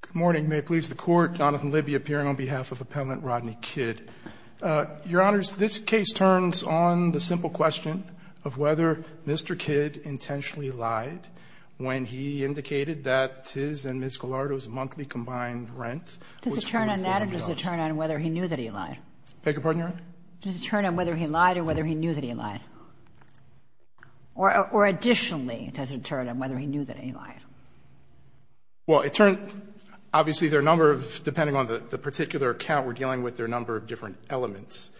Good morning. May it please the Court, Jonathan Libby appearing on behalf of Appellant Rodney Kidd. Your Honors, this case turns on the simple question of whether Mr. Kidd intentionally lied when he indicated that his and Ms. Gallardo's monthly combined rent was $340,000. Does it turn on that or does it turn on whether he knew that he lied? Beg your pardon, Your Honor? Does it turn on whether he lied or whether he knew that he lied? Or additionally, does it turn on whether he knew that he lied? Well, it turns – obviously, there are a number of – depending on the particular account we're dealing with, there are a number of different elements.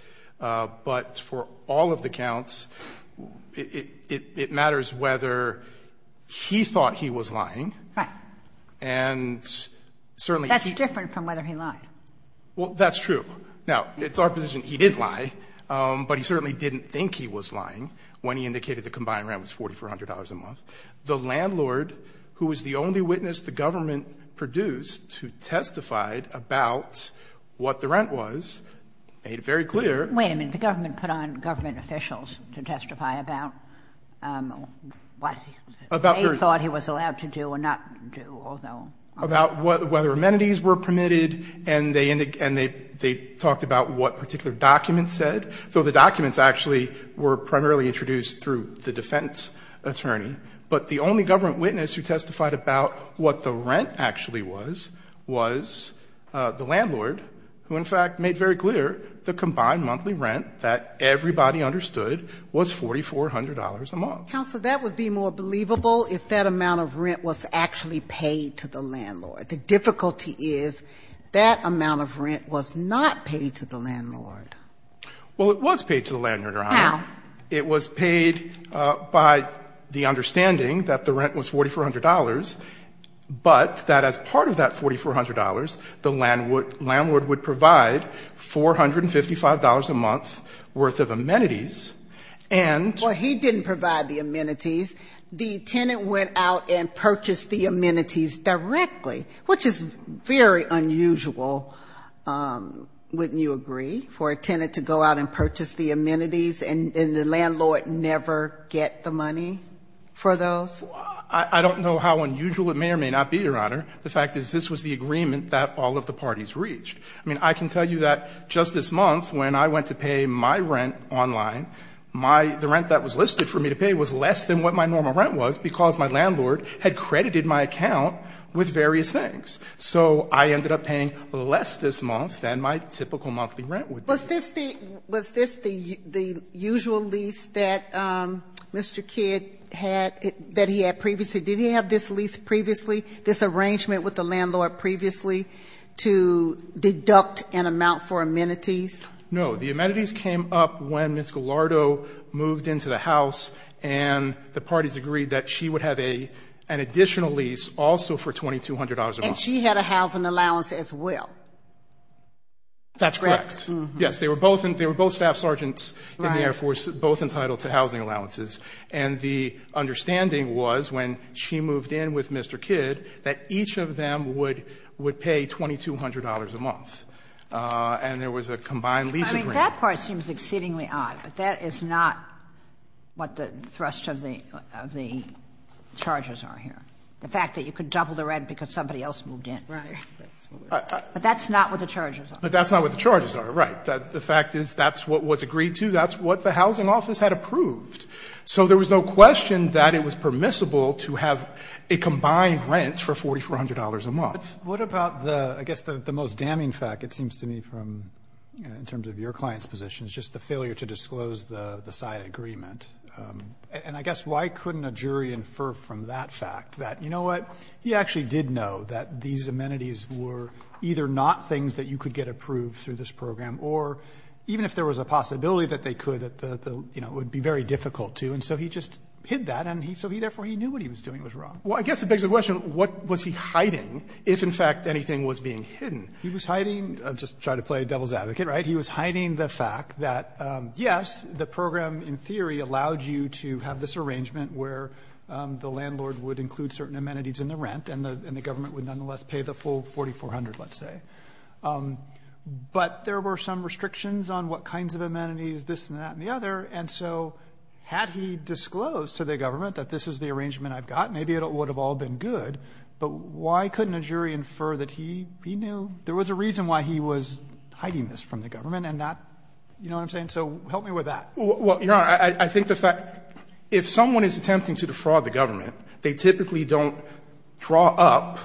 But for all of the counts, it matters whether he thought he was lying. Right. And certainly he – That's different from whether he lied. Well, that's true. Now, it's our position he did lie, but he certainly didn't think he was lying when he indicated the combined rent was $4,400 a month. The landlord, who was the only witness the government produced who testified about what the rent was, made it very clear – Wait a minute. The government put on government officials to testify about what they thought he was allowed to do and not do, although – And they talked about what particular documents said. So the documents actually were primarily introduced through the defense attorney. But the only government witness who testified about what the rent actually was, was the landlord, who in fact made very clear the combined monthly rent that everybody understood was $4,400 a month. Counsel, that would be more believable if that amount of rent was actually paid to the landlord. The difficulty is that amount of rent was not paid to the landlord. Well, it was paid to the landlord, Your Honor. How? It was paid by the understanding that the rent was $4,400, but that as part of that $4,400, the landlord would provide $455 a month worth of amenities and – Well, he didn't provide the amenities. The tenant went out and purchased the amenities directly, which is very unusual, wouldn't you agree, for a tenant to go out and purchase the amenities and the landlord never get the money for those? I don't know how unusual it may or may not be, Your Honor. The fact is this was the agreement that all of the parties reached. I mean, I can tell you that just this month when I went to pay my rent online, the rent that was listed for me to pay was less than what my normal rent was because my landlord had credited my account with various things. So I ended up paying less this month than my typical monthly rent would be. Was this the usual lease that Mr. Kidd had, that he had previously? Did he have this lease previously, this arrangement with the landlord previously to deduct an amount for amenities? No. The amenities came up when Ms. Gallardo moved into the house and the parties agreed that she would have an additional lease also for $2,200 a month. And she had a housing allowance as well, correct? That's correct. Yes, they were both staff sergeants in the Air Force, both entitled to housing allowances. And the understanding was when she moved in with Mr. Kidd that each of them would pay $2,200 a month. And there was a combined lease agreement. I mean, that part seems exceedingly odd, but that is not what the thrust of the charges are here, the fact that you could double the rent because somebody else moved in. Right. But that's not what the charges are. But that's not what the charges are, right. The fact is that's what was agreed to. That's what the housing office had approved. So there was no question that it was permissible to have a combined rent for $4,400 a month. But what about the, I guess, the most damning fact, it seems to me from, in terms of your client's position, is just the failure to disclose the side agreement. And I guess why couldn't a jury infer from that fact that, you know what, he actually did know that these amenities were either not things that you could get approved through this program, or even if there was a possibility that they could, you know, it would be very difficult to. And so he just hid that. And so therefore he knew what he was doing was wrong. Well, I guess it begs the question, what was he hiding, if in fact anything was being hidden? He was hiding, I'll just try to play devil's advocate, right? He was hiding the fact that, yes, the program in theory allowed you to have this arrangement where the landlord would include certain amenities in the rent, and the government would nonetheless pay the full $4,400, let's say. But there were some restrictions on what kinds of amenities, this and that and the other. And so had he disclosed to the government that this is the arrangement I've got, maybe it would have all been good. But why couldn't a jury infer that he knew there was a reason why he was hiding this from the government and not, you know what I'm saying? So help me with that. Well, Your Honor, I think the fact that if someone is attempting to defraud the government, they typically don't draw up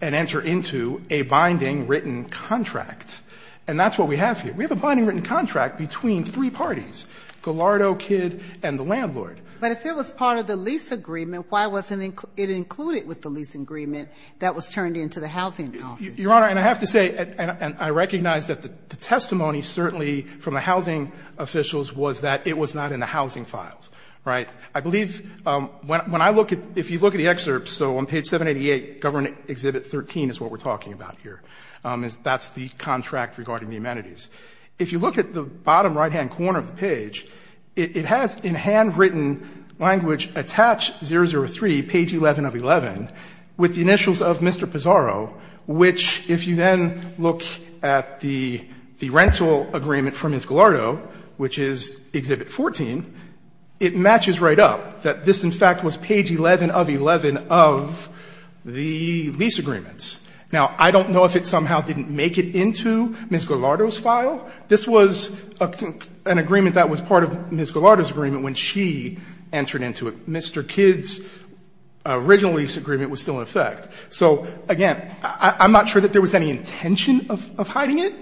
and enter into a binding written contract. And that's what we have here. We have a binding written contract between three parties. Gallardo, Kidd, and the landlord. But if it was part of the lease agreement, why wasn't it included with the lease agreement that was turned into the housing office? Your Honor, and I have to say, and I recognize that the testimony certainly from the housing officials was that it was not in the housing files, right? I believe when I look at the excerpts, so on page 788, government exhibit 13 is what That's the contract regarding the amenities. If you look at the bottom right-hand corner of the page, it has in handwritten language attached 003, page 11 of 11, with the initials of Mr. Pizarro, which, if you then look at the rental agreement for Ms. Gallardo, which is exhibit 14, it matches right up, that this, in fact, was page 11 of 11 of the lease agreements. Now, I don't know if it somehow didn't make it into Ms. Gallardo's files, but I don't This was an agreement that was part of Ms. Gallardo's agreement when she entered into it. Mr. Kidd's original lease agreement was still in effect. So, again, I'm not sure that there was any intention of hiding it,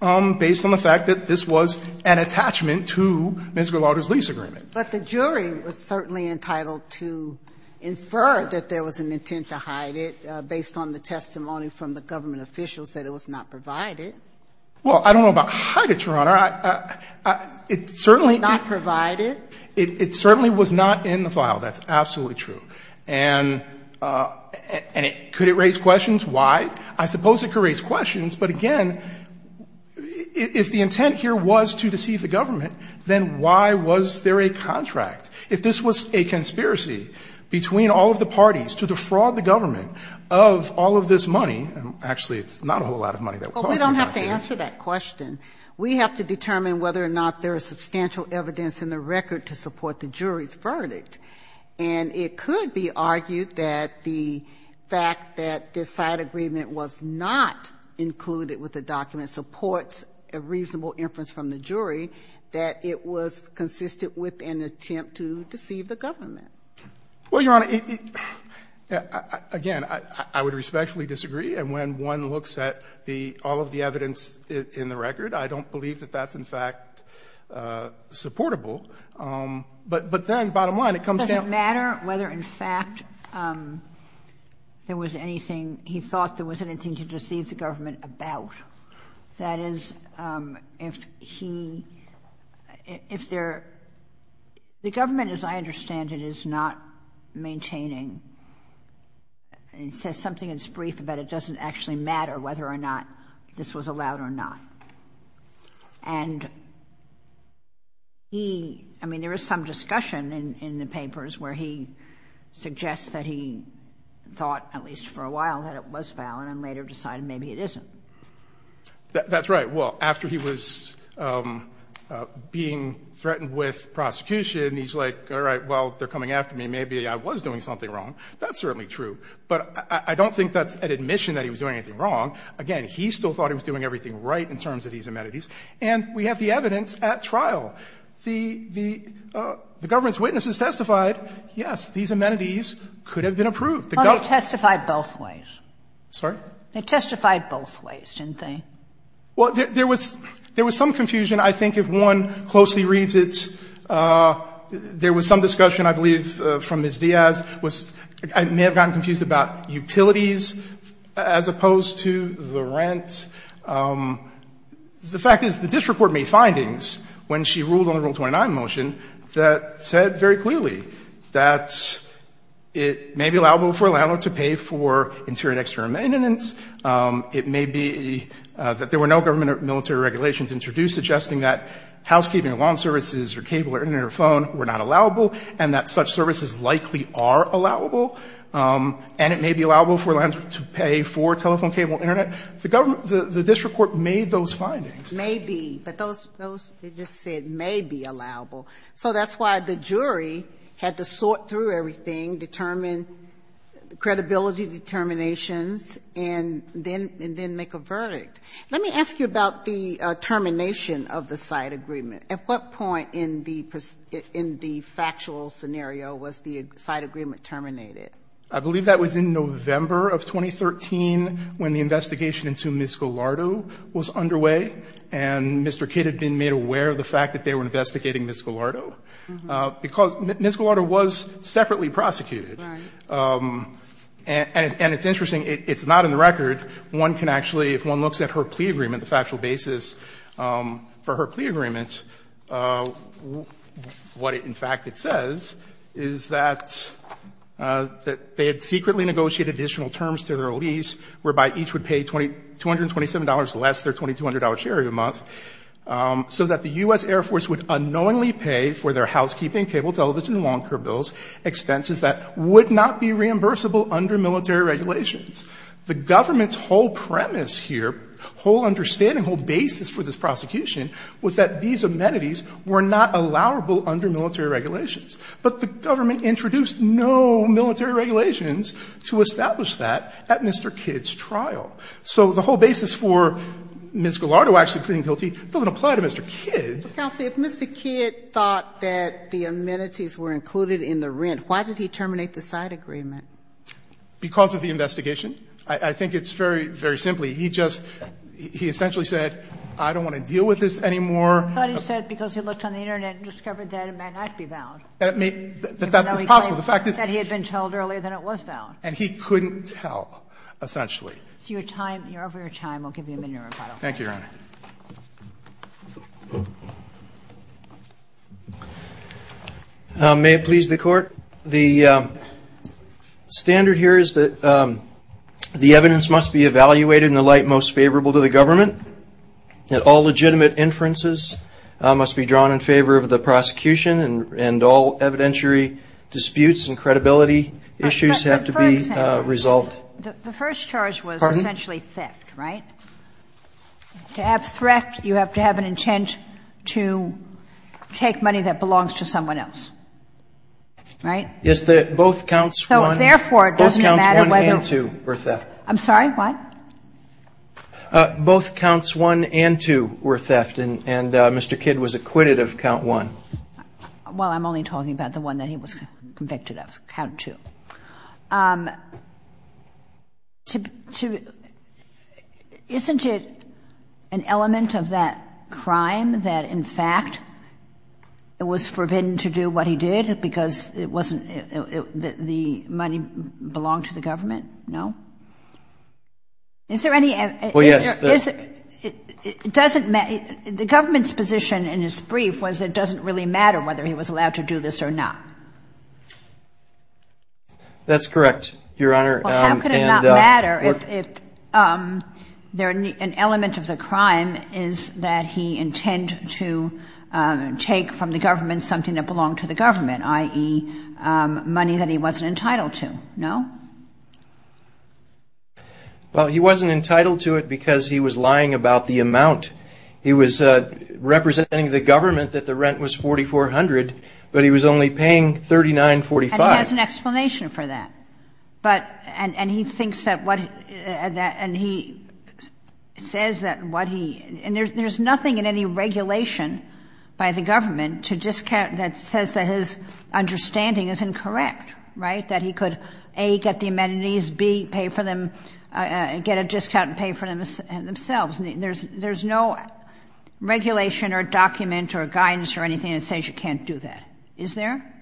based on the fact that this was an attachment to Ms. Gallardo's lease agreement. But the jury was certainly entitled to infer that there was an intent to hide it, based on the testimony from the government officials, that it was not provided. Well, I don't know about hide it, Your Honor. It certainly Was not provided. It certainly was not in the file. That's absolutely true. And could it raise questions? Why? I suppose it could raise questions. But, again, if the intent here was to deceive the government, then why was there a contract? If this was a conspiracy between all of the parties to defraud the government of all of this money, actually, it's not a whole lot of money. Well, we don't have to answer that question. We have to determine whether or not there is substantial evidence in the record to support the jury's verdict. And it could be argued that the fact that this side agreement was not included with the document supports a reasonable inference from the jury, that it was consistent with an attempt to deceive the government. Well, Your Honor, again, I would respectfully disagree. And when one looks at all of the evidence in the record, I don't believe that that's, in fact, supportable. But then, bottom line, it comes down to It doesn't matter whether, in fact, there was anything he thought there was anything to deceive the government about. That is, if he, if there, the government, as I understand it, is not maintaining and says something that's brief, but it doesn't actually matter whether or not this was allowed or not. And he, I mean, there is some discussion in the papers where he suggests that he thought, at least for a while, that it was valid and later decided maybe it isn't. That's right. Well, after he was being threatened with prosecution, he's like, all right, well, they're coming after me. Maybe I was doing something wrong. That's certainly true. But I don't think that's an admission that he was doing anything wrong. Again, he still thought he was doing everything right in terms of these amenities. And we have the evidence at trial. The government's witnesses testified, yes, these amenities could have been approved. The government's witnesses testified both ways. Sorry? They testified both ways, didn't they? Well, there was some confusion, I think, if one closely reads it. There was some discussion, I believe, from Ms. Diaz. I may have gotten confused about utilities as opposed to the rent. The fact is the district court made findings when she ruled on the Rule 29 motion that said very clearly that it may be allowable for a landlord to pay for interior and exterior maintenance. It may be that there were no government or military regulations introduced suggesting that housekeeping or lawn services or cable or internet or phone were not allowable and that such services likely are allowable. And it may be allowable for a landlord to pay for telephone, cable, internet. The district court made those findings. Maybe. But those they just said may be allowable. So that's why the jury had to sort through everything, determine credibility determinations, and then make a verdict. Let me ask you about the termination of the side agreement. At what point in the factual scenario was the side agreement terminated? I believe that was in November of 2013 when the investigation into Ms. Gallardo was underway, and Mr. Kidd had been made aware of the fact that they were investigating Ms. Gallardo, because Ms. Gallardo was separately prosecuted. One can actually, if one looks at her plea agreement, the factual basis for her plea agreement, what in fact it says is that they had secretly negotiated additional terms to their lease whereby each would pay $227 less their $2,200 share every month so that the U.S. Air Force would unknowingly pay for their housekeeping, cable, television, lawn care bills, expenses that would not be reimbursable under military regulations. The government's whole premise here, whole understanding, whole basis for this prosecution was that these amenities were not allowable under military regulations. But the government introduced no military regulations to establish that at Mr. Kidd's trial. So the whole basis for Ms. Gallardo actually pleading guilty doesn't apply to Mr. Kidd. Counsel, if Mr. Kidd thought that the amenities were included in the rent, why did he terminate the side agreement? Because of the investigation. I think it's very, very simply. He just, he essentially said, I don't want to deal with this anymore. But he said because he looked on the Internet and discovered that it may not be valid. That it may, that that is possible. The fact is that he had been told earlier that it was valid. And he couldn't tell, essentially. It's your time, you're over your time. We'll give you a minute to rebuttal. Thank you, Your Honor. May it please the Court? The standard here is that the evidence must be evaluated in the light most favorable to the government. That all legitimate inferences must be drawn in favor of the prosecution and all evidentiary disputes and credibility issues have to be resolved. The first charge was essentially theft, right? To have theft, you have to have an intent to take money that belongs to someone else. Right? Yes, both counts 1 and 2 were theft. I'm sorry, what? Both counts 1 and 2 were theft and Mr. Kidd was acquitted of count 1. Well, I'm only talking about the one that he was convicted of, count 2. Isn't it an element of that crime that, in fact, it was forbidden to do what he did because it wasn't, the money belonged to the government? No? Is there any? Well, yes. It doesn't matter, the government's position in his brief was it doesn't really matter whether he was allowed to do this or not. That's correct, Your Honor. Well, how could it not matter if an element of the crime is that he intend to take from the government something that belonged to the government, i.e., money that he wasn't entitled to? No? Well, he wasn't entitled to it because he was lying about the amount. He was representing the government that the rent was $4,400, but he was only paying $39.45. And he has an explanation for that. But, and he thinks that what, and he says that what he, and there's nothing in the regulation by the government to discount, that says that his understanding is incorrect, right? That he could, A, get the amenities, B, pay for them, get a discount and pay for themselves. There's no regulation or document or guidance or anything that says you can't do that. Is there?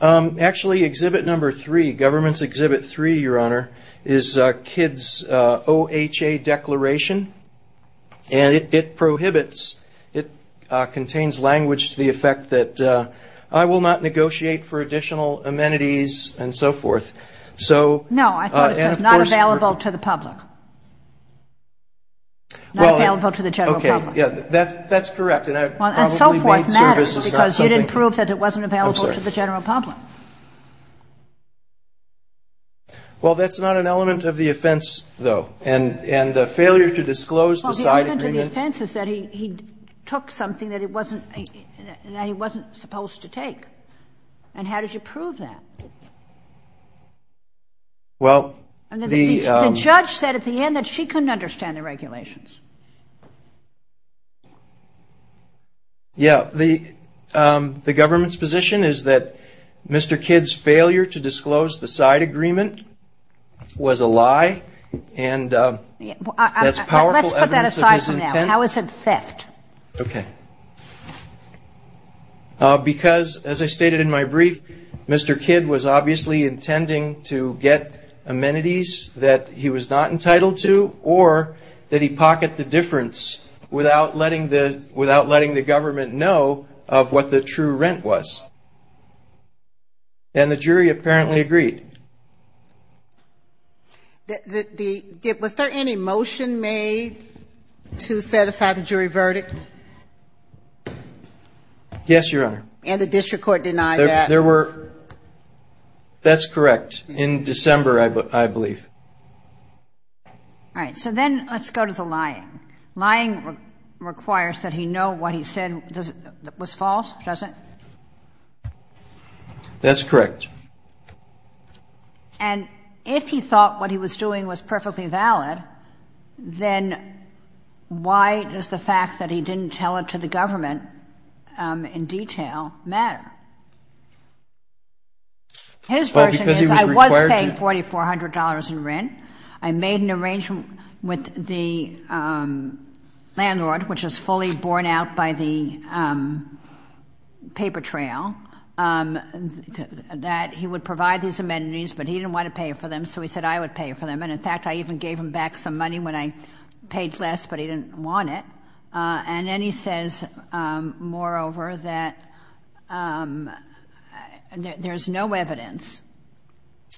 Actually, exhibit number three, government's exhibit three, Your Honor, is KIDS OHA declaration. And it prohibits, it contains language to the effect that I will not negotiate for additional amenities and so forth. So, and of course- No, I thought it said not available to the public. Not available to the general public. Okay, yeah, that's correct. And I probably made services- Well, and so forth matters because you didn't prove that it wasn't available to the general public. Well, that's not an element of the offense, though, and the failure to disclose the side agreement- Well, the element of the offense is that he took something that he wasn't supposed to take. And how did you prove that? Well, the- And the judge said at the end that she couldn't understand the regulations. Yeah, the government's position is that Mr. KIDS' failure to disclose the side agreement was a lie, and that's powerful evidence of his intent- Let's put that aside for now. How is it theft? Okay. Because, as I stated in my brief, Mr. KIDS was obviously intending to get amenities that he was not entitled to, or that he pocketed the difference without letting the government know of what the true rent was. And the jury apparently agreed. Was there any motion made to set aside the jury verdict? Yes, Your Honor. And the district court denied that? There were- that's correct. In December, I believe. All right. So then let's go to the lying. Lying requires that he know what he said was false, doesn't it? That's correct. And if he thought what he was doing was perfectly valid, then why does the fact that he didn't want to pay for the amenities? His version is, I was paying $4,400 in rent. I made an arrangement with the landlord, which was fully borne out by the paper trail, that he would provide these amenities, but he didn't want to pay for them, so he said I would pay for them. And, in fact, I even gave him back some money when I paid less, but he didn't want it. And then he says, moreover, that there's no evidence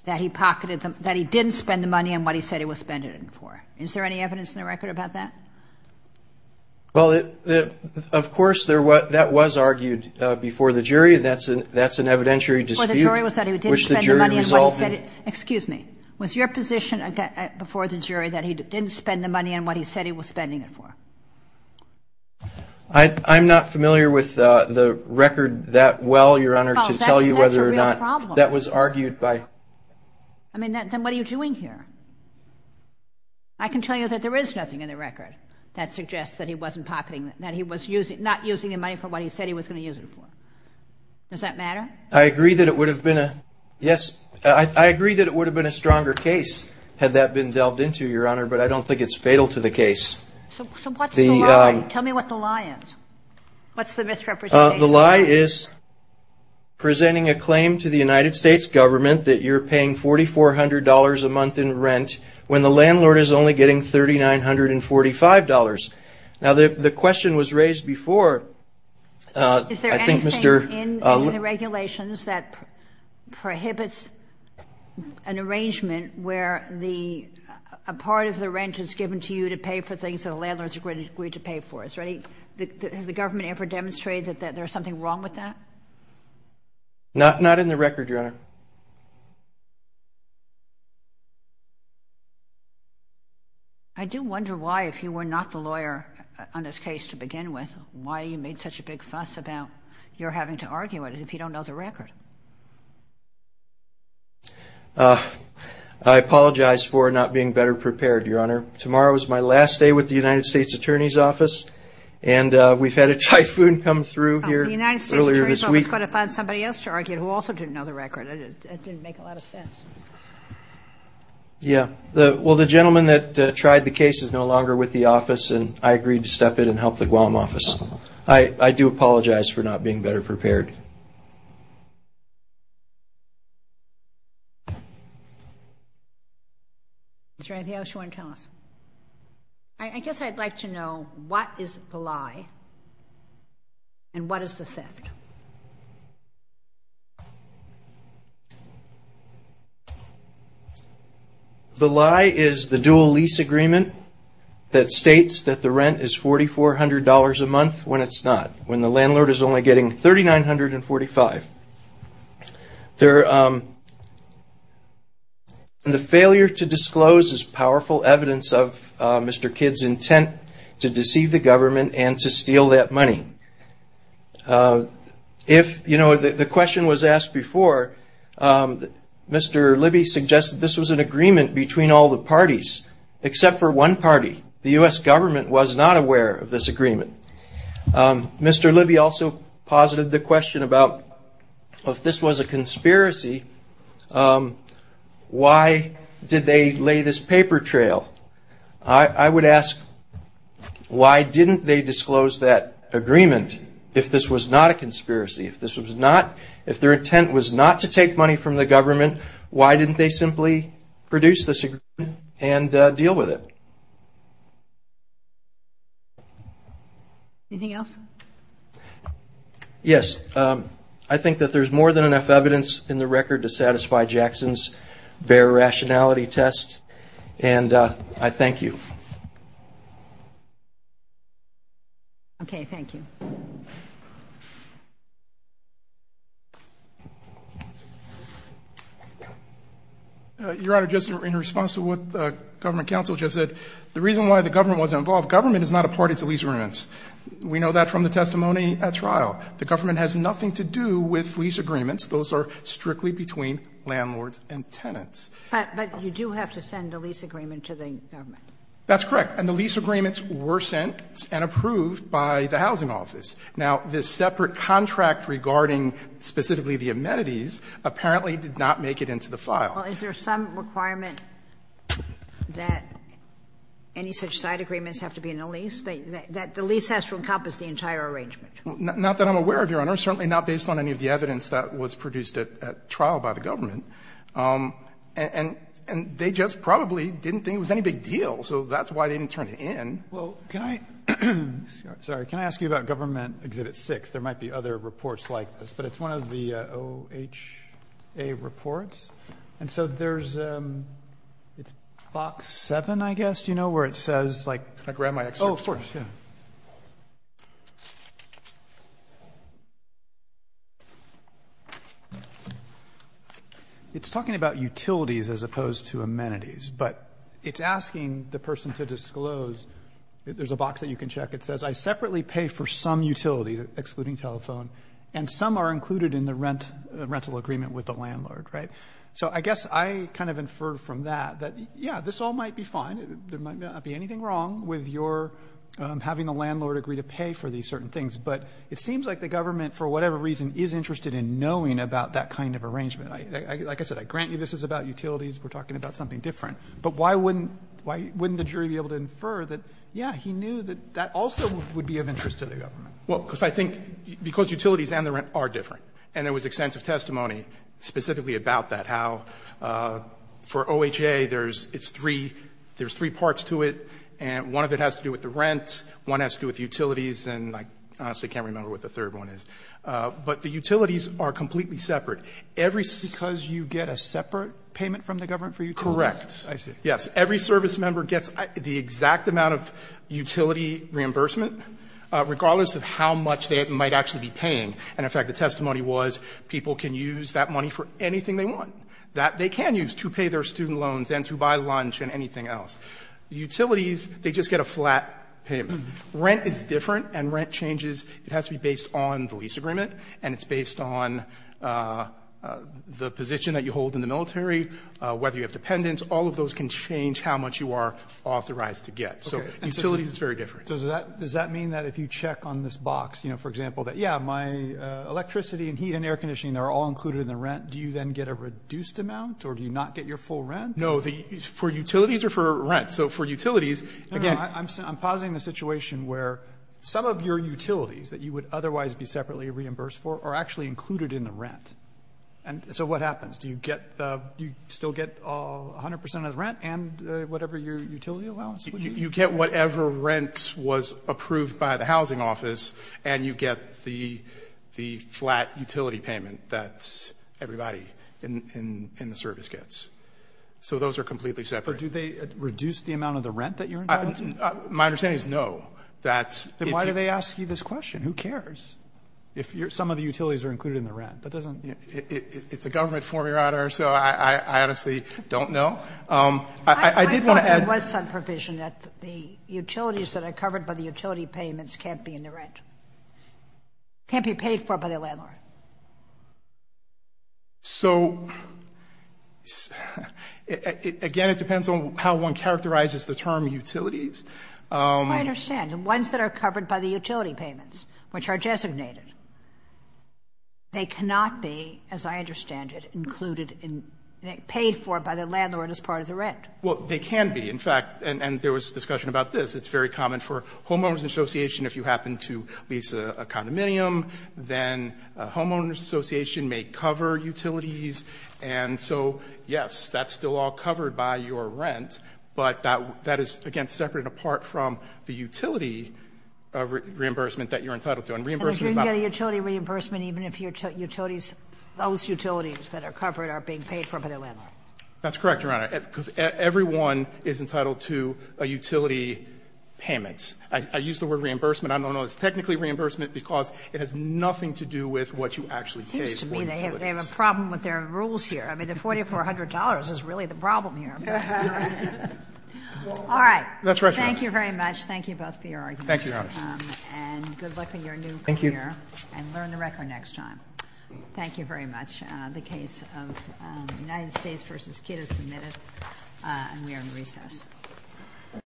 that he pocketed the- that he didn't spend the money on what he said he was spending it for. Is there any evidence in the record about that? Well, of course, that was argued before the jury. That's an evidentiary dispute. Well, the jury was that he didn't spend the money on what he said he- excuse me. Was your position before the jury that he didn't spend the money on what he said he was spending it for? I'm not familiar with the record that well, Your Honor, to tell you whether or not- Oh, that's a real problem. That was argued by- I mean, then what are you doing here? I can tell you that there is nothing in the record that suggests that he wasn't pocketing- that he was not using the money for what he said he was going to use it for. Does that matter? I agree that it would have been a- yes. I agree that it would have been a stronger case had that been delved into, Your Honor, but I don't think it's fatal to the case. So what's the lie? Tell me what the lie is. What's the misrepresentation? The lie is presenting a claim to the United States government that you're paying $4,400 a month in rent when the landlord is only getting $3,945. Now, the question was raised before- Is there anything in the regulations that prohibits an arrangement where a part of the rent is given to you to pay for things that the landlord's agreed to pay for? Has the government ever demonstrated that there's something wrong with that? Not in the record, Your Honor. I do wonder why, if you were not the lawyer on this case to begin with, why you made such a big fuss about your having to argue it if you don't know the record. I apologize for not being better prepared, Your Honor. Tomorrow is my last day with the United States Attorney's Office and we've had a typhoon come through here earlier this week. The United States Attorney's Office is going to find somebody else to argue who also didn't know the record. It didn't make a lot of sense. Yeah. Well, the gentleman that tried the case is no longer with the office and I agreed to step in and help the Guam office. I do apologize for not being better prepared. Mr. Antioch, you want to tell us? I guess I'd like to know what is the lie and what is the theft? The lie is the dual lease agreement that states that the rent is $4,400 a month when it's not, when the landlord is only getting $3,945. The failure to disclose is powerful evidence of Mr. Kidd's intent to deceive the government and to steal that money. The question was asked before. Except for one party, the U.S. government was not aware of this agreement. Mr. Libby also posited the question about if this was a conspiracy, why did they lay this paper trail? I would ask why didn't they disclose that agreement if this was not a conspiracy? If their intent was not to take money from the government, why didn't they simply produce this agreement and deal with it? Anything else? Yes, I think that there's more than enough evidence in the record to satisfy Jackson's bare rationality test and I thank you. Okay, thank you. Your Honor, just in response to what the government counsel just said, the reason why the government wasn't involved, government is not a party to lease agreements. We know that from the testimony at trial. The government has nothing to do with lease agreements. Those are strictly between landlords and tenants. But you do have to send a lease agreement to the government. That's correct, and the lease agreements were sent and approved by the housing office. Now, this separate contract regarding specifically the amenities apparently did not make it into the file. Well, is there some requirement that any such side agreements have to be in the lease? That the lease has to encompass the entire arrangement? Not that I'm aware of, Your Honor. Certainly not based on any of the evidence that was produced at trial by the government. And they just probably didn't think it was any big deal, so that's why they didn't turn it in. Well, can I ask you about Government Exhibit 6? There might be other reports like this, but it's one of the OHA reports. And so there's, it's box 7, I guess, you know, where it says, like... Can I grab my excerpt? Oh, of course, yeah. It's talking about utilities as opposed to amenities, but it's asking the person to disclose There's a box that you can check. It says, I separately pay for some utilities, excluding telephone, and some are included in the rental agreement with the landlord, right? So I guess I kind of infer from that that, yeah, this all might be fine. There might not be anything wrong with your having the landlord agree to pay for these certain things, but it seems like the government, for whatever reason, is interested in knowing about that kind of arrangement. Like I said, I grant you this is about utilities. We're talking about something different. But why wouldn't the jury be able to infer that, yeah, he knew that that also would be of interest to the government? Well, because I think, because utilities and the rent are different, and there was extensive testimony specifically about that, how for OHA, there's three parts to it, and one of it has to do with the rent, one has to do with utilities, and I honestly can't remember what the third one is. But the utilities are completely separate. Because you get a separate payment from the government for utilities? Correct. I see. Yes. Every service member gets the exact amount of utility reimbursement, regardless of how much they might actually be paying. And in fact, the testimony was people can use that money for anything they want. That they can use to pay their student loans and to buy lunch and anything else. Utilities, they just get a flat payment. Rent is different, and rent changes. It has to be based on the lease agreement, and it's based on the position that you hold in the military, whether you have dependents. All of those can change how much you are authorized to get. So utilities is very different. Does that mean that if you check on this box, you know, for example, that, yeah, my electricity and heat and air conditioning, they're all included in the rent, do you then get a reduced amount, or do you not get your full rent? No, for utilities or for rent? So for utilities, again — No, no. I'm pausing the situation where some of your utilities that you would otherwise be separately reimbursed for are actually included in the rent. And so what happens? Do you get the — do you still get 100 percent of the rent and whatever your utility allowance would be? You get whatever rent was approved by the housing office, and you get the flat utility payment that everybody in the service gets. So those are completely separate. Or do they reduce the amount of the rent that you're entitled to? My understanding is no. That's — Then why do they ask you this question? Who cares if some of the utilities are included in the rent? That doesn't — It's a government form, Your Honor, so I honestly don't know. I did want to add — I thought there was some provision that the utilities that are covered by the utility payments can't be in the rent, can't be paid for by the landlord. Okay. So, again, it depends on how one characterizes the term utilities. I understand. The ones that are covered by the utility payments, which are designated, they cannot be, as I understand it, included in — paid for by the landlord as part of the rent. Well, they can be. In fact — and there was discussion about this. It's very common for homeowners association, if you happen to lease a condominium, then homeowners association may cover utilities. And so, yes, that's still all covered by your rent, but that is, again, separate and apart from the utility reimbursement that you're entitled to. And reimbursement about — And you can get a utility reimbursement even if your utilities, those utilities that are covered are being paid for by the landlord. That's correct, Your Honor, because everyone is entitled to a utility payment. I use the word reimbursement. I don't know if it's technically reimbursement because it has nothing to do with what you actually pay for utilities. It seems to me they have a problem with their rules here. I mean, the $4,400 is really the problem here. All right. That's right, Your Honor. Thank you very much. Thank you both for your arguments. Thank you, Your Honor. And good luck with your new career. Thank you. And learn the record next time. Thank you very much. The case of United States v. Kidd is submitted, and we are in recess.